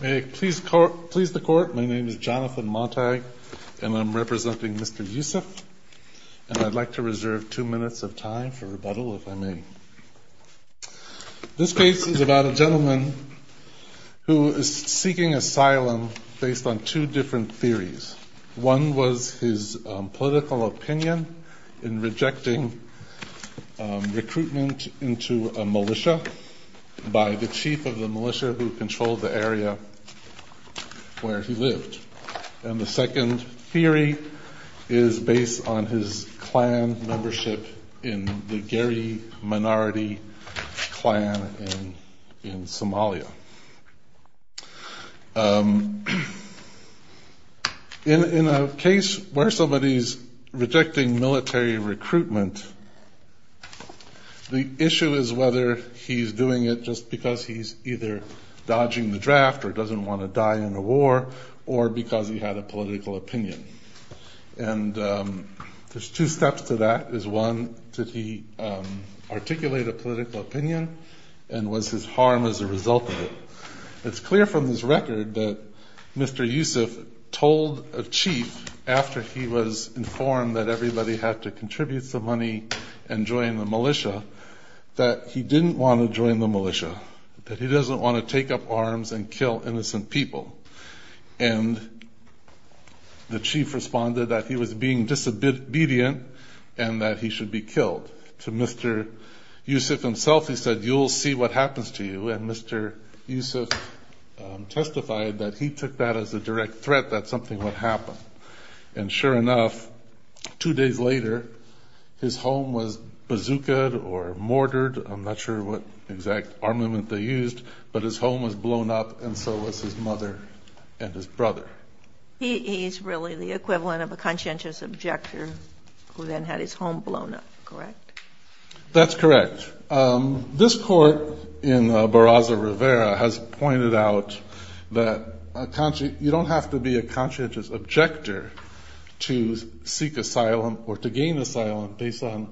May it please the court, my name is Jonathan Montag and I'm representing Mr. Yusuf and I'd like to reserve two minutes of time for rebuttal if I may. This case is about a gentleman who is seeking asylum based on two different theories. One was his political opinion in rejecting recruitment into a militia by the chief of the militia who controlled the area where he lived. And the second theory is based on his clan membership in the Geri minority clan in Somalia. In a case where somebody's rejecting military recruitment, the issue is whether he's doing it just because he's either dodging the draft or doesn't want to die in a war or because he had a political opinion. And there's two steps to that. One, did he articulate a political opinion and was his harm as a result of it? It's clear from this record that Mr. Yusuf told a chief after he was informed that everybody had to contribute some money and join the militia that he didn't want to join the militia. That he doesn't want to take up arms and kill innocent people. And the chief responded that he was being disobedient and that he should be killed. To Mr. Yusuf himself he said you'll see what happens to you and Mr. Yusuf testified that he took that as a direct threat that something would happen. And sure enough two days later his home was bazooka'd or mortared, I'm not sure what exact armament they used, but his home was blown up and so was his mother and his brother. He's really the equivalent of a conscientious objector who then had his home blown up, correct? That's correct. This court in Barraza Rivera has pointed out that you don't have to be a conscientious objector to seek asylum or to gain asylum based on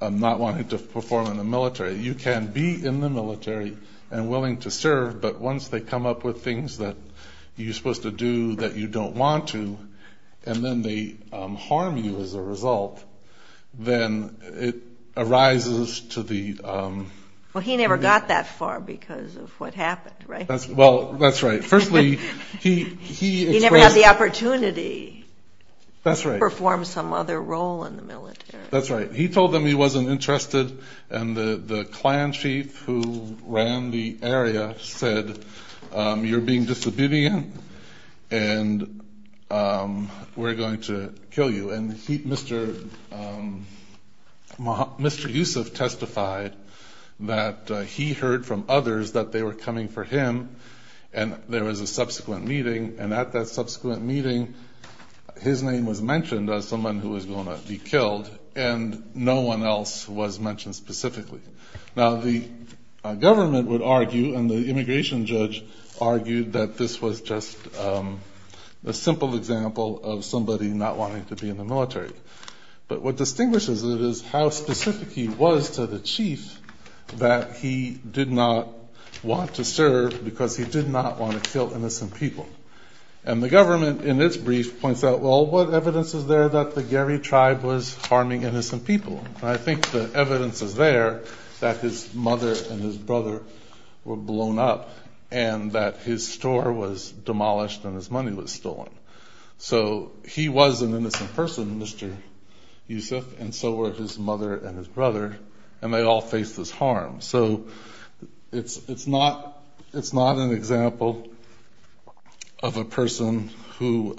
not wanting to perform in the military. You can be in the military and willing to serve but once they come up with things that you're supposed to do that you don't want to and then they harm you as a result then it arises to the... Well he never got that far because of what happened, right? Well that's right. Firstly he... He never had the opportunity to perform some other role in the military. That's right. He told them he wasn't interested and the clan chief who ran the area said you're being disobedient and we're going to kill you. And Mr. Yusuf testified that he heard from others that they were coming for him and there was a subsequent meeting and at that subsequent meeting his name was mentioned as someone who was going to be killed and no one else was mentioned specifically. Now the government would argue and the immigration judge argued that this was just a simple example of somebody not wanting to be in the military. But what distinguishes it is how specific he was to the chief that he did not want to serve because he did not want to kill innocent people. And the government in its brief points out well what evidence is there that the Geri tribe was harming innocent people? I think the evidence is there that his mother and his brother were blown up and that his store was demolished and his money was stolen. So he was an innocent person, Mr. Yusuf, and so were his mother and his brother and they all faced this harm. So it's not an example of a person who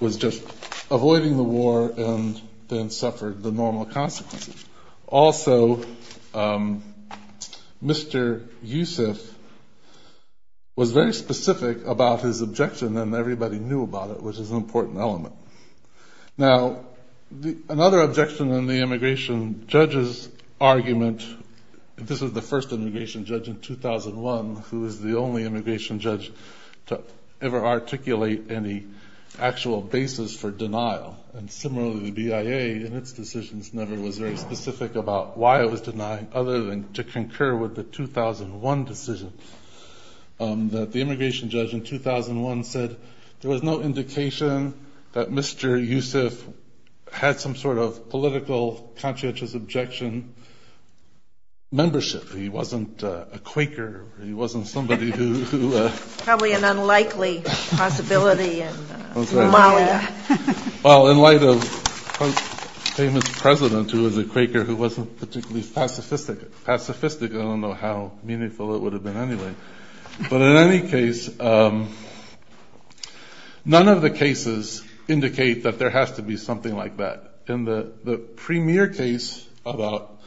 was just avoiding the war and then suffered the normal consequences. Also, Mr. Yusuf was very specific about his objection and everybody knew about it, which is an important element. Now another objection in the immigration judge's argument, this was the first immigration judge in 2001, who was the only immigration judge to ever articulate any actual basis for denial. And similarly the BIA in its decisions never was very specific about why it was denying other than to concur with the 2001 decision. The immigration judge in 2001 said there was no indication that Mr. Yusuf had some sort of political conscientious objection membership. He wasn't a Quaker, he wasn't somebody who... Probably an unlikely possibility in Somalia. Well, in light of a famous president who was a Quaker who wasn't particularly pacifistic. I don't know how meaningful it would have been anyway. But in any case, none of the cases indicate that there has to be something like that. In the premier case about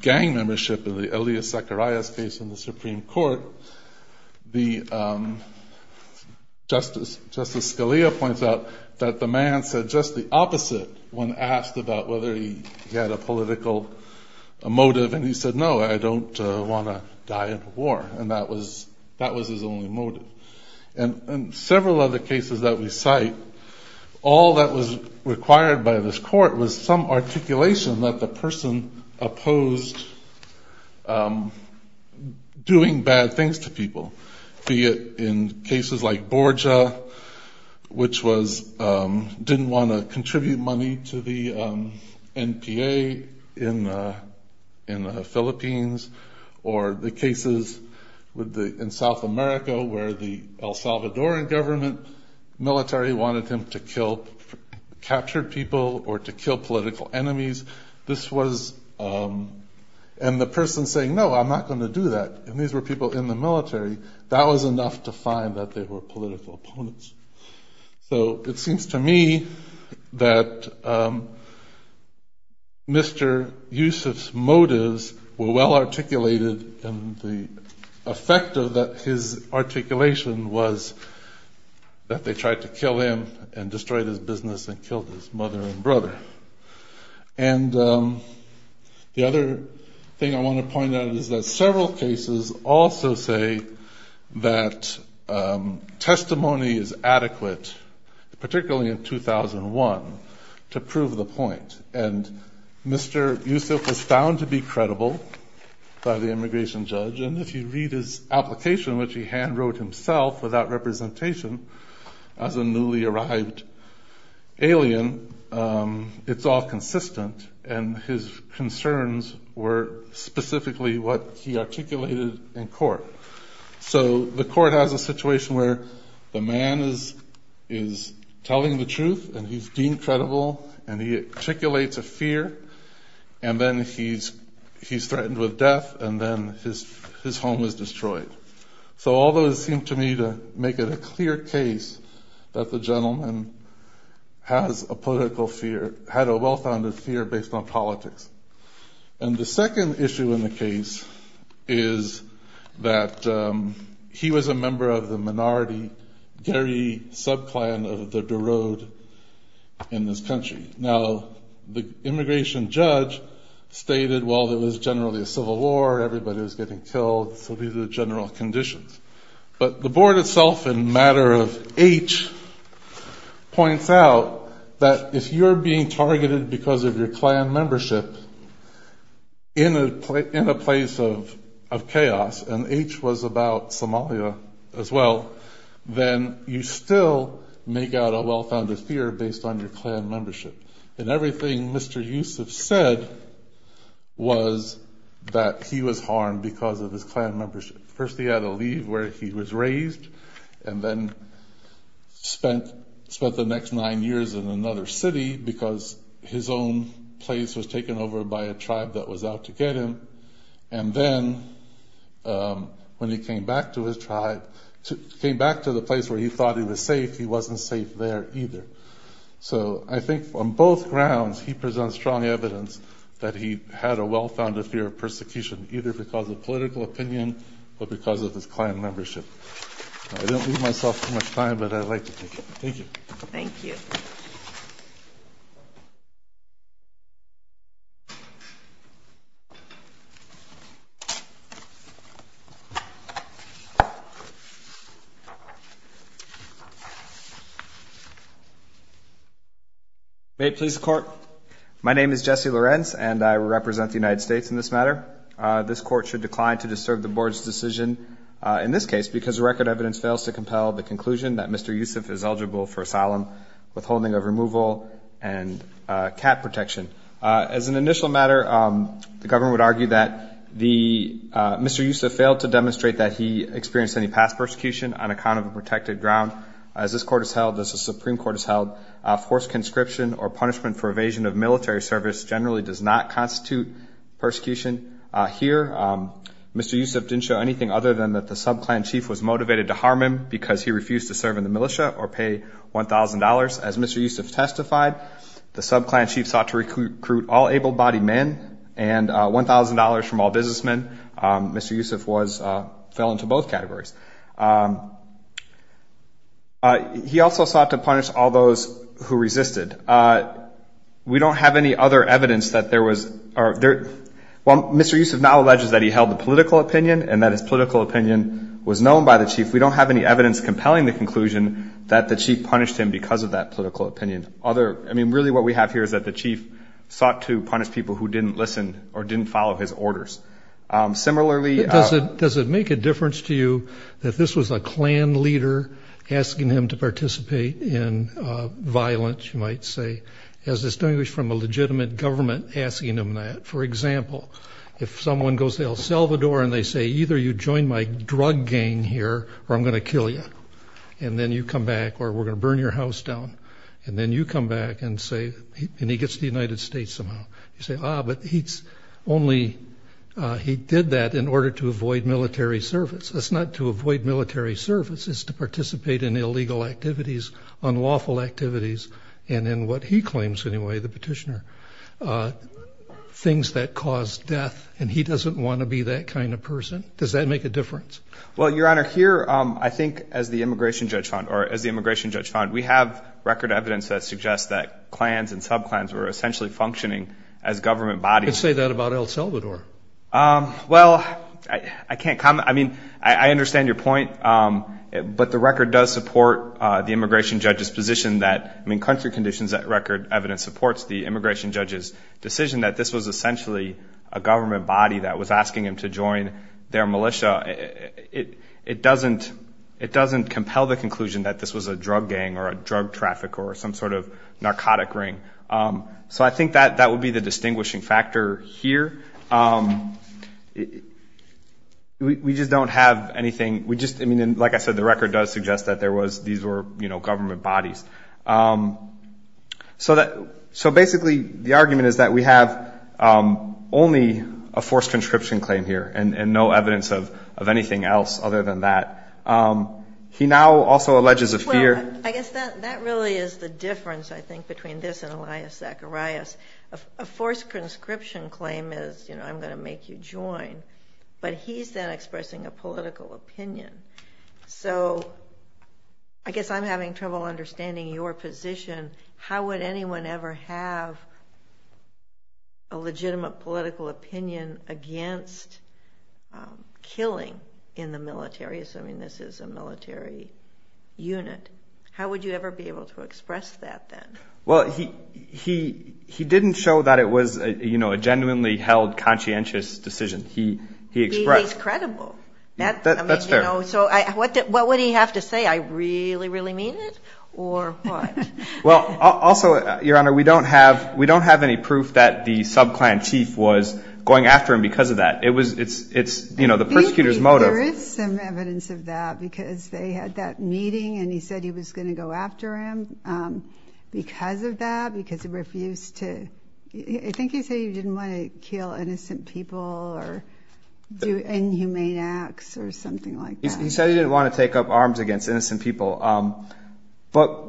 gang membership in the Elias Zacharias case in the Supreme Court, Justice Scalia points out that the man said just the opposite when asked about whether he had a political motive. And he said, no, I don't want to die in a war. And that was his only motive. And several other cases that we cite, all that was required by this court was some articulation that the person opposed doing bad things to people. Be it in cases like Borja, which didn't want to contribute money to the NPA in the Philippines. Or the cases in South America where the El Salvadoran government military wanted him to capture people or to kill political enemies. And the person saying, no, I'm not going to do that. And these were people in the military. That was enough to find that they were political opponents. So it seems to me that Mr. Yusuf's motives were well articulated and the effect of his articulation was that they tried to kill him and destroyed his business and killed his mother and brother. And the other thing I want to point out is that several cases also say that testimony is adequate, particularly in 2001, to prove the point. And Mr. Yusuf was found to be credible by the immigration judge. And if you read his application, which he hand-wrote himself without representation as a newly arrived alien. It's all consistent and his concerns were specifically what he articulated in court. So the court has a situation where the man is telling the truth and he's deemed credible and he articulates a fear. And then he's threatened with death and then his home is destroyed. So all those seem to me to make it a clear case that the gentleman has a political fear. He had a well-founded fear based on politics. And the second issue in the case is that he was a member of the minority Gary sub-clan of the Berode in this country. Now, the immigration judge stated, well, there was generally a civil war, everybody was getting killed, so these are the general conditions. But the board itself in matter of H points out that if you're being targeted because of your clan membership in a place of chaos, and H was about Somalia as well, then you still make out a well-founded fear based on your clan membership. And everything Mr. Yusuf said was that he was harmed because of his clan membership. First he had to leave where he was raised and then spent the next nine years in another city because his own place was taken over by a tribe that was out to get him. And then when he came back to his tribe, came back to the place where he thought he was safe, he wasn't safe there either. So I think on both grounds, he presents strong evidence that he had a well-founded fear of persecution either because of political opinion, or because of his clan membership. May it please the Court. My name is Jesse Lorenz, and I represent the United States in this matter. And I would like to point out that persecution of military service generally does not constitute persecution here. Mr. Yusuf didn't show anything other than that the sub-clan chief was motivated to harm him because he refused to serve in the militia or pay $1,000. As Mr. Yusuf testified, the sub-clan chief sought to recruit all able-bodied men and $1,000 from all businessmen. Mr. Yusuf fell into both categories. He also sought to punish all those who resisted. We don't have any other evidence that there was – well, Mr. Yusuf now alleges that he held a political opinion and that his political opinion was known by the chief. We don't have any evidence compelling the conclusion that the chief punished him because of that political opinion. I mean, really what we have here is that the chief sought to punish people who didn't listen or didn't follow his orders. Similarly – He did that in order to avoid military service. It's not to avoid military service. It's to participate in illegal activities, unlawful activities, and in what he claims anyway, the petitioner, things that cause death. And he doesn't want to be that kind of person. Does that make a difference? Well, Your Honor, here I think as the immigration judge found – or as the immigration judge found, we have record evidence that suggests that clans and sub-clans were essentially functioning as government bodies. I could say that about El Salvador. Well, I can't comment. I mean, I understand your point, but the record does support the immigration judge's position that – I mean, country conditions record evidence supports the immigration judge's decision that this was essentially a government body that was asking him to join their militia. It doesn't compel the conclusion that this was a drug gang or a drug trafficker or some sort of narcotic ring. So I think that would be the distinguishing factor here. We just don't have anything – I mean, like I said, the record does suggest that these were government bodies. So basically the argument is that we have only a forced conscription claim here and no evidence of anything else other than that. He now also alleges a fear – Elias Zacharias – a forced conscription claim is, you know, I'm going to make you join, but he's then expressing a political opinion. So I guess I'm having trouble understanding your position. How would anyone ever have a legitimate political opinion against killing in the military, assuming this is a military unit? How would you ever be able to express that then? Well, he didn't show that it was, you know, a genuinely held conscientious decision. He expressed – He's credible. That's fair. So what would he have to say? I really, really mean it? Or what? Well, also, Your Honor, we don't have any proof that the sub-clan chief was going after him because of that. It's, you know, the persecutor's motive – Well, there is some evidence of that because they had that meeting and he said he was going to go after him because of that, because he refused to – I think he said he didn't want to kill innocent people or do inhumane acts or something like that. He said he didn't want to take up arms against innocent people. But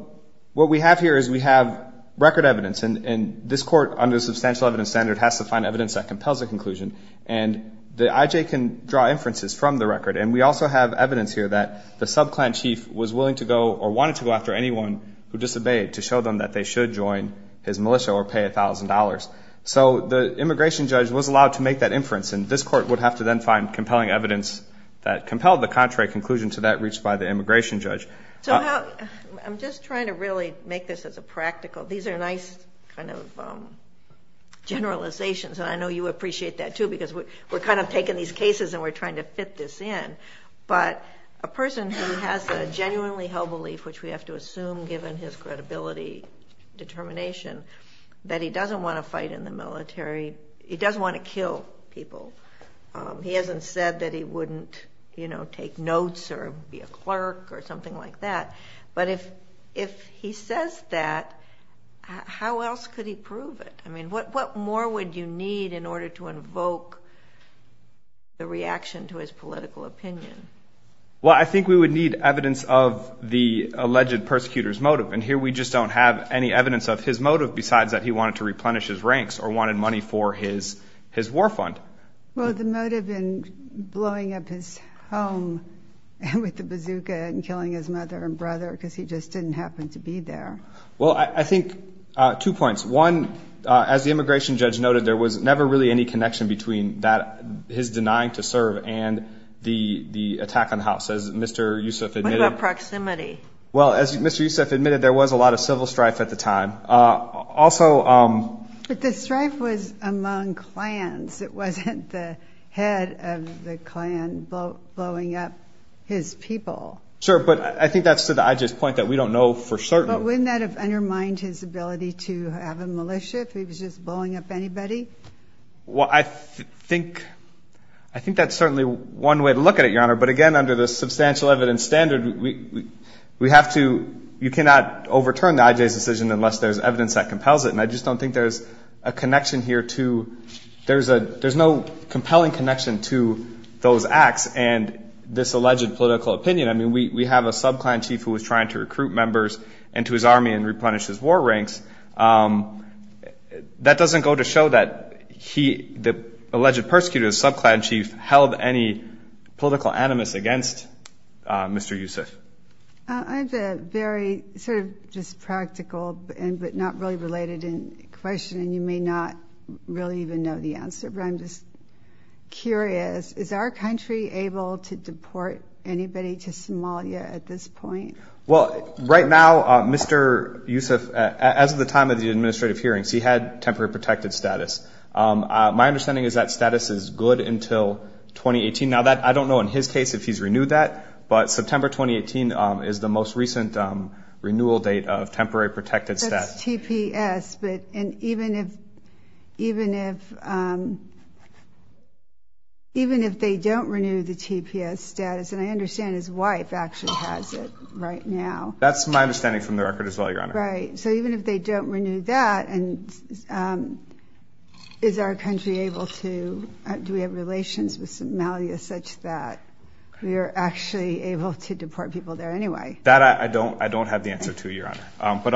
what we have here is we have record evidence, and this Court, under a substantial evidence standard, has to find evidence that compels a conclusion, and the IJ can draw inferences from the record. And we also have evidence here that the sub-clan chief was willing to go or wanted to go after anyone who disobeyed to show them that they should join his militia or pay $1,000. So the immigration judge was allowed to make that inference, and this Court would have to then find compelling evidence that compelled the contrary conclusion to that reached by the immigration judge. So how – I'm just trying to really make this as a practical – these are nice kind of generalizations, and I know you appreciate that, too, because we're kind of taking these cases and we're trying to fit this in. But a person who has a genuinely held belief, which we have to assume given his credibility determination, that he doesn't want to fight in the military – he doesn't want to kill people. He hasn't said that he wouldn't take notes or be a clerk or something like that. But if he says that, how else could he prove it? I mean, what more would you need in order to invoke the reaction to his political opinion? Well, I think we would need evidence of the alleged persecutor's motive, and here we just don't have any evidence of his motive besides that he wanted to replenish his ranks or wanted money for his war fund. Well, the motive in blowing up his home with the bazooka and killing his mother and brother because he just didn't happen to be there. Well, I think – two points. One, as the immigration judge noted, there was never really any connection between that – his denying to serve and the attack on the house. As Mr. Yusuf admitted – What about proximity? Well, as Mr. Yusuf admitted, there was a lot of civil strife at the time. Also – But the strife was among clans. It wasn't the head of the clan blowing up his people. Sure, but I think that's to the IG's point that we don't know for certain. But wouldn't that have undermined his ability to have a militia if he was just blowing up anybody? Well, I think – I think that's certainly one way to look at it, Your Honor. But again, under the substantial evidence standard, we have to – you cannot overturn the IG's decision unless there's evidence that compels it. And I just don't think there's a connection here to – there's a – there's no compelling connection to those acts and this alleged political opinion. I mean, we have a sub-clan chief who was trying to recruit members into his army and replenish his war ranks. That doesn't go to show that he – the alleged persecutor, the sub-clan chief, held any political animus against Mr. Yusuf. I have a very sort of just practical but not really related question, and you may not really even know the answer, but I'm just curious. Is our country able to deport anybody to Somalia at this point? Well, right now, Mr. Yusuf, as of the time of the administrative hearings, he had temporary protected status. My understanding is that status is good until 2018. Now, that – I don't know in his case if he's renewed that, but September 2018 is the most recent renewal date of temporary protected status. That's TPS, but – and even if – even if – even if they don't renew the TPS status – and I understand his wife actually has it right now. That's my understanding from the record as well, Your Honor. Right. So even if they don't renew that, and is our country able to – do we have relations with Somalia such that we are actually able to deport people there anyway? That I don't – I don't have the answer to, Your Honor. But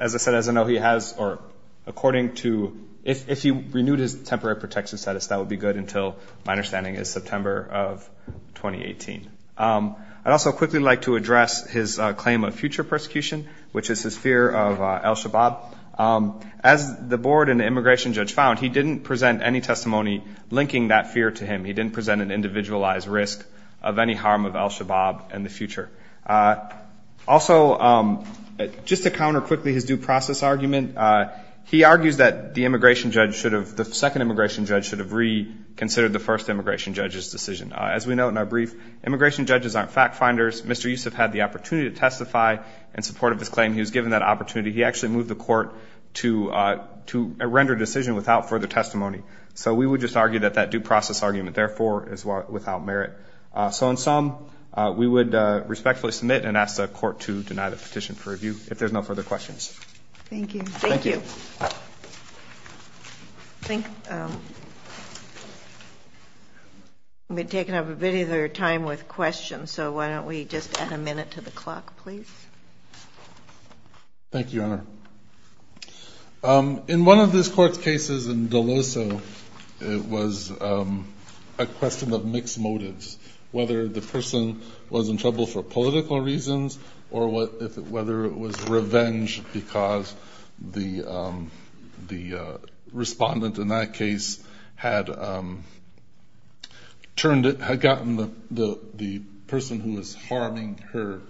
as I said, as I know he has – or according to – if he renewed his temporary protected status, that would be good until – my understanding is September of 2018. I'd also quickly like to address his claim of future persecution, which is his fear of al-Shabaab. As the board and the immigration judge found, he didn't present any testimony linking that fear to him. He didn't present an individualized risk of any harm of al-Shabaab in the future. Also, just to counter quickly his due process argument, he argues that the immigration judge should have – the second immigration judge should have reconsidered the first immigration judge's decision. As we note in our brief, immigration judges aren't fact finders. Mr. Yusuf had the opportunity to testify in support of his claim. He was given that opportunity. He actually moved the court to render a decision without further testimony. So we would just argue that that due process argument, therefore, is without merit. So in sum, we would respectfully submit and ask the court to deny the petition for review if there's no further questions. Thank you. Thank you. I think we've taken up a bit of your time with questions, so why don't we just add a minute to the clock, please. Thank you, Your Honor. In one of this court's cases in Deloso, it was a question of mixed motives, whether the person was in trouble for political reasons or whether it was revenge because the respondent in that case had gotten the person who was harming her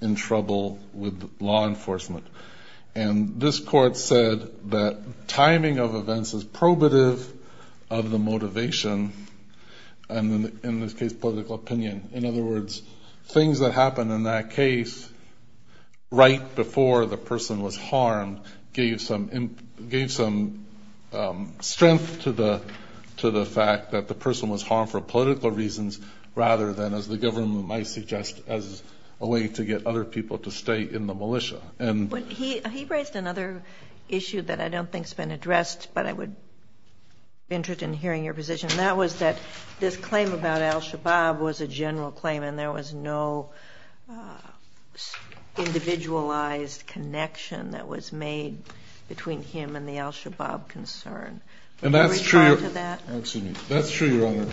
in trouble with law enforcement. And this court said that timing of events is probative of the motivation, and in this case, political opinion. In other words, things that happened in that case right before the person was harmed gave some strength to the fact that the person was harmed for political reasons rather than, as the government might suggest, as a way to get other people to stay in the militia. He raised another issue that I don't think has been addressed, but I would be interested in hearing your position, and that was that this claim about al-Shabaab was a general claim and there was no individualized connection that was made between him and the al-Shabaab concern. That's true, Your Honor.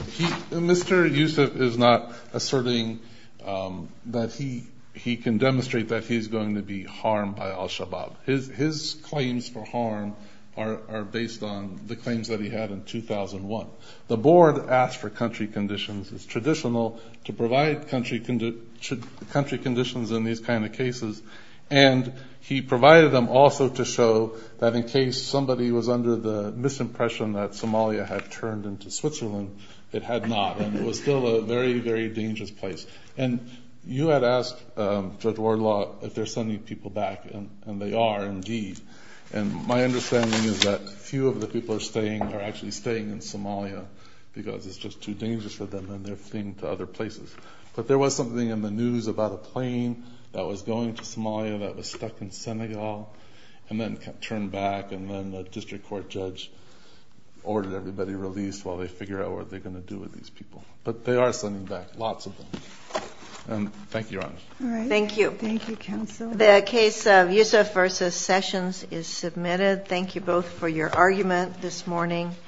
Mr. Yusuf is not asserting that he can demonstrate that he's going to be harmed by al-Shabaab. His claims for harm are based on the claims that he had in 2001. The board asked for country conditions. It's traditional to provide country conditions in these kind of cases, and he provided them also to show that in case somebody was under the misimpression that Somalia had turned into Switzerland, it had not, and it was still a very, very dangerous place. And you had asked Judge Wardlaw if they're sending people back, and they are indeed. And my understanding is that a few of the people are staying, are actually staying in Somalia because it's just too dangerous for them, and they're fleeing to other places. But there was something in the news about a plane that was going to Somalia that was stuck in Senegal and then turned back, and then the district court judge ordered everybody released while they figure out what they're going to do with these people. But they are sending back lots of them. And thank you, Your Honor. Thank you. Thank you, counsel. The case of Yusuf versus Sessions is submitted. Thank you both for your argument this morning.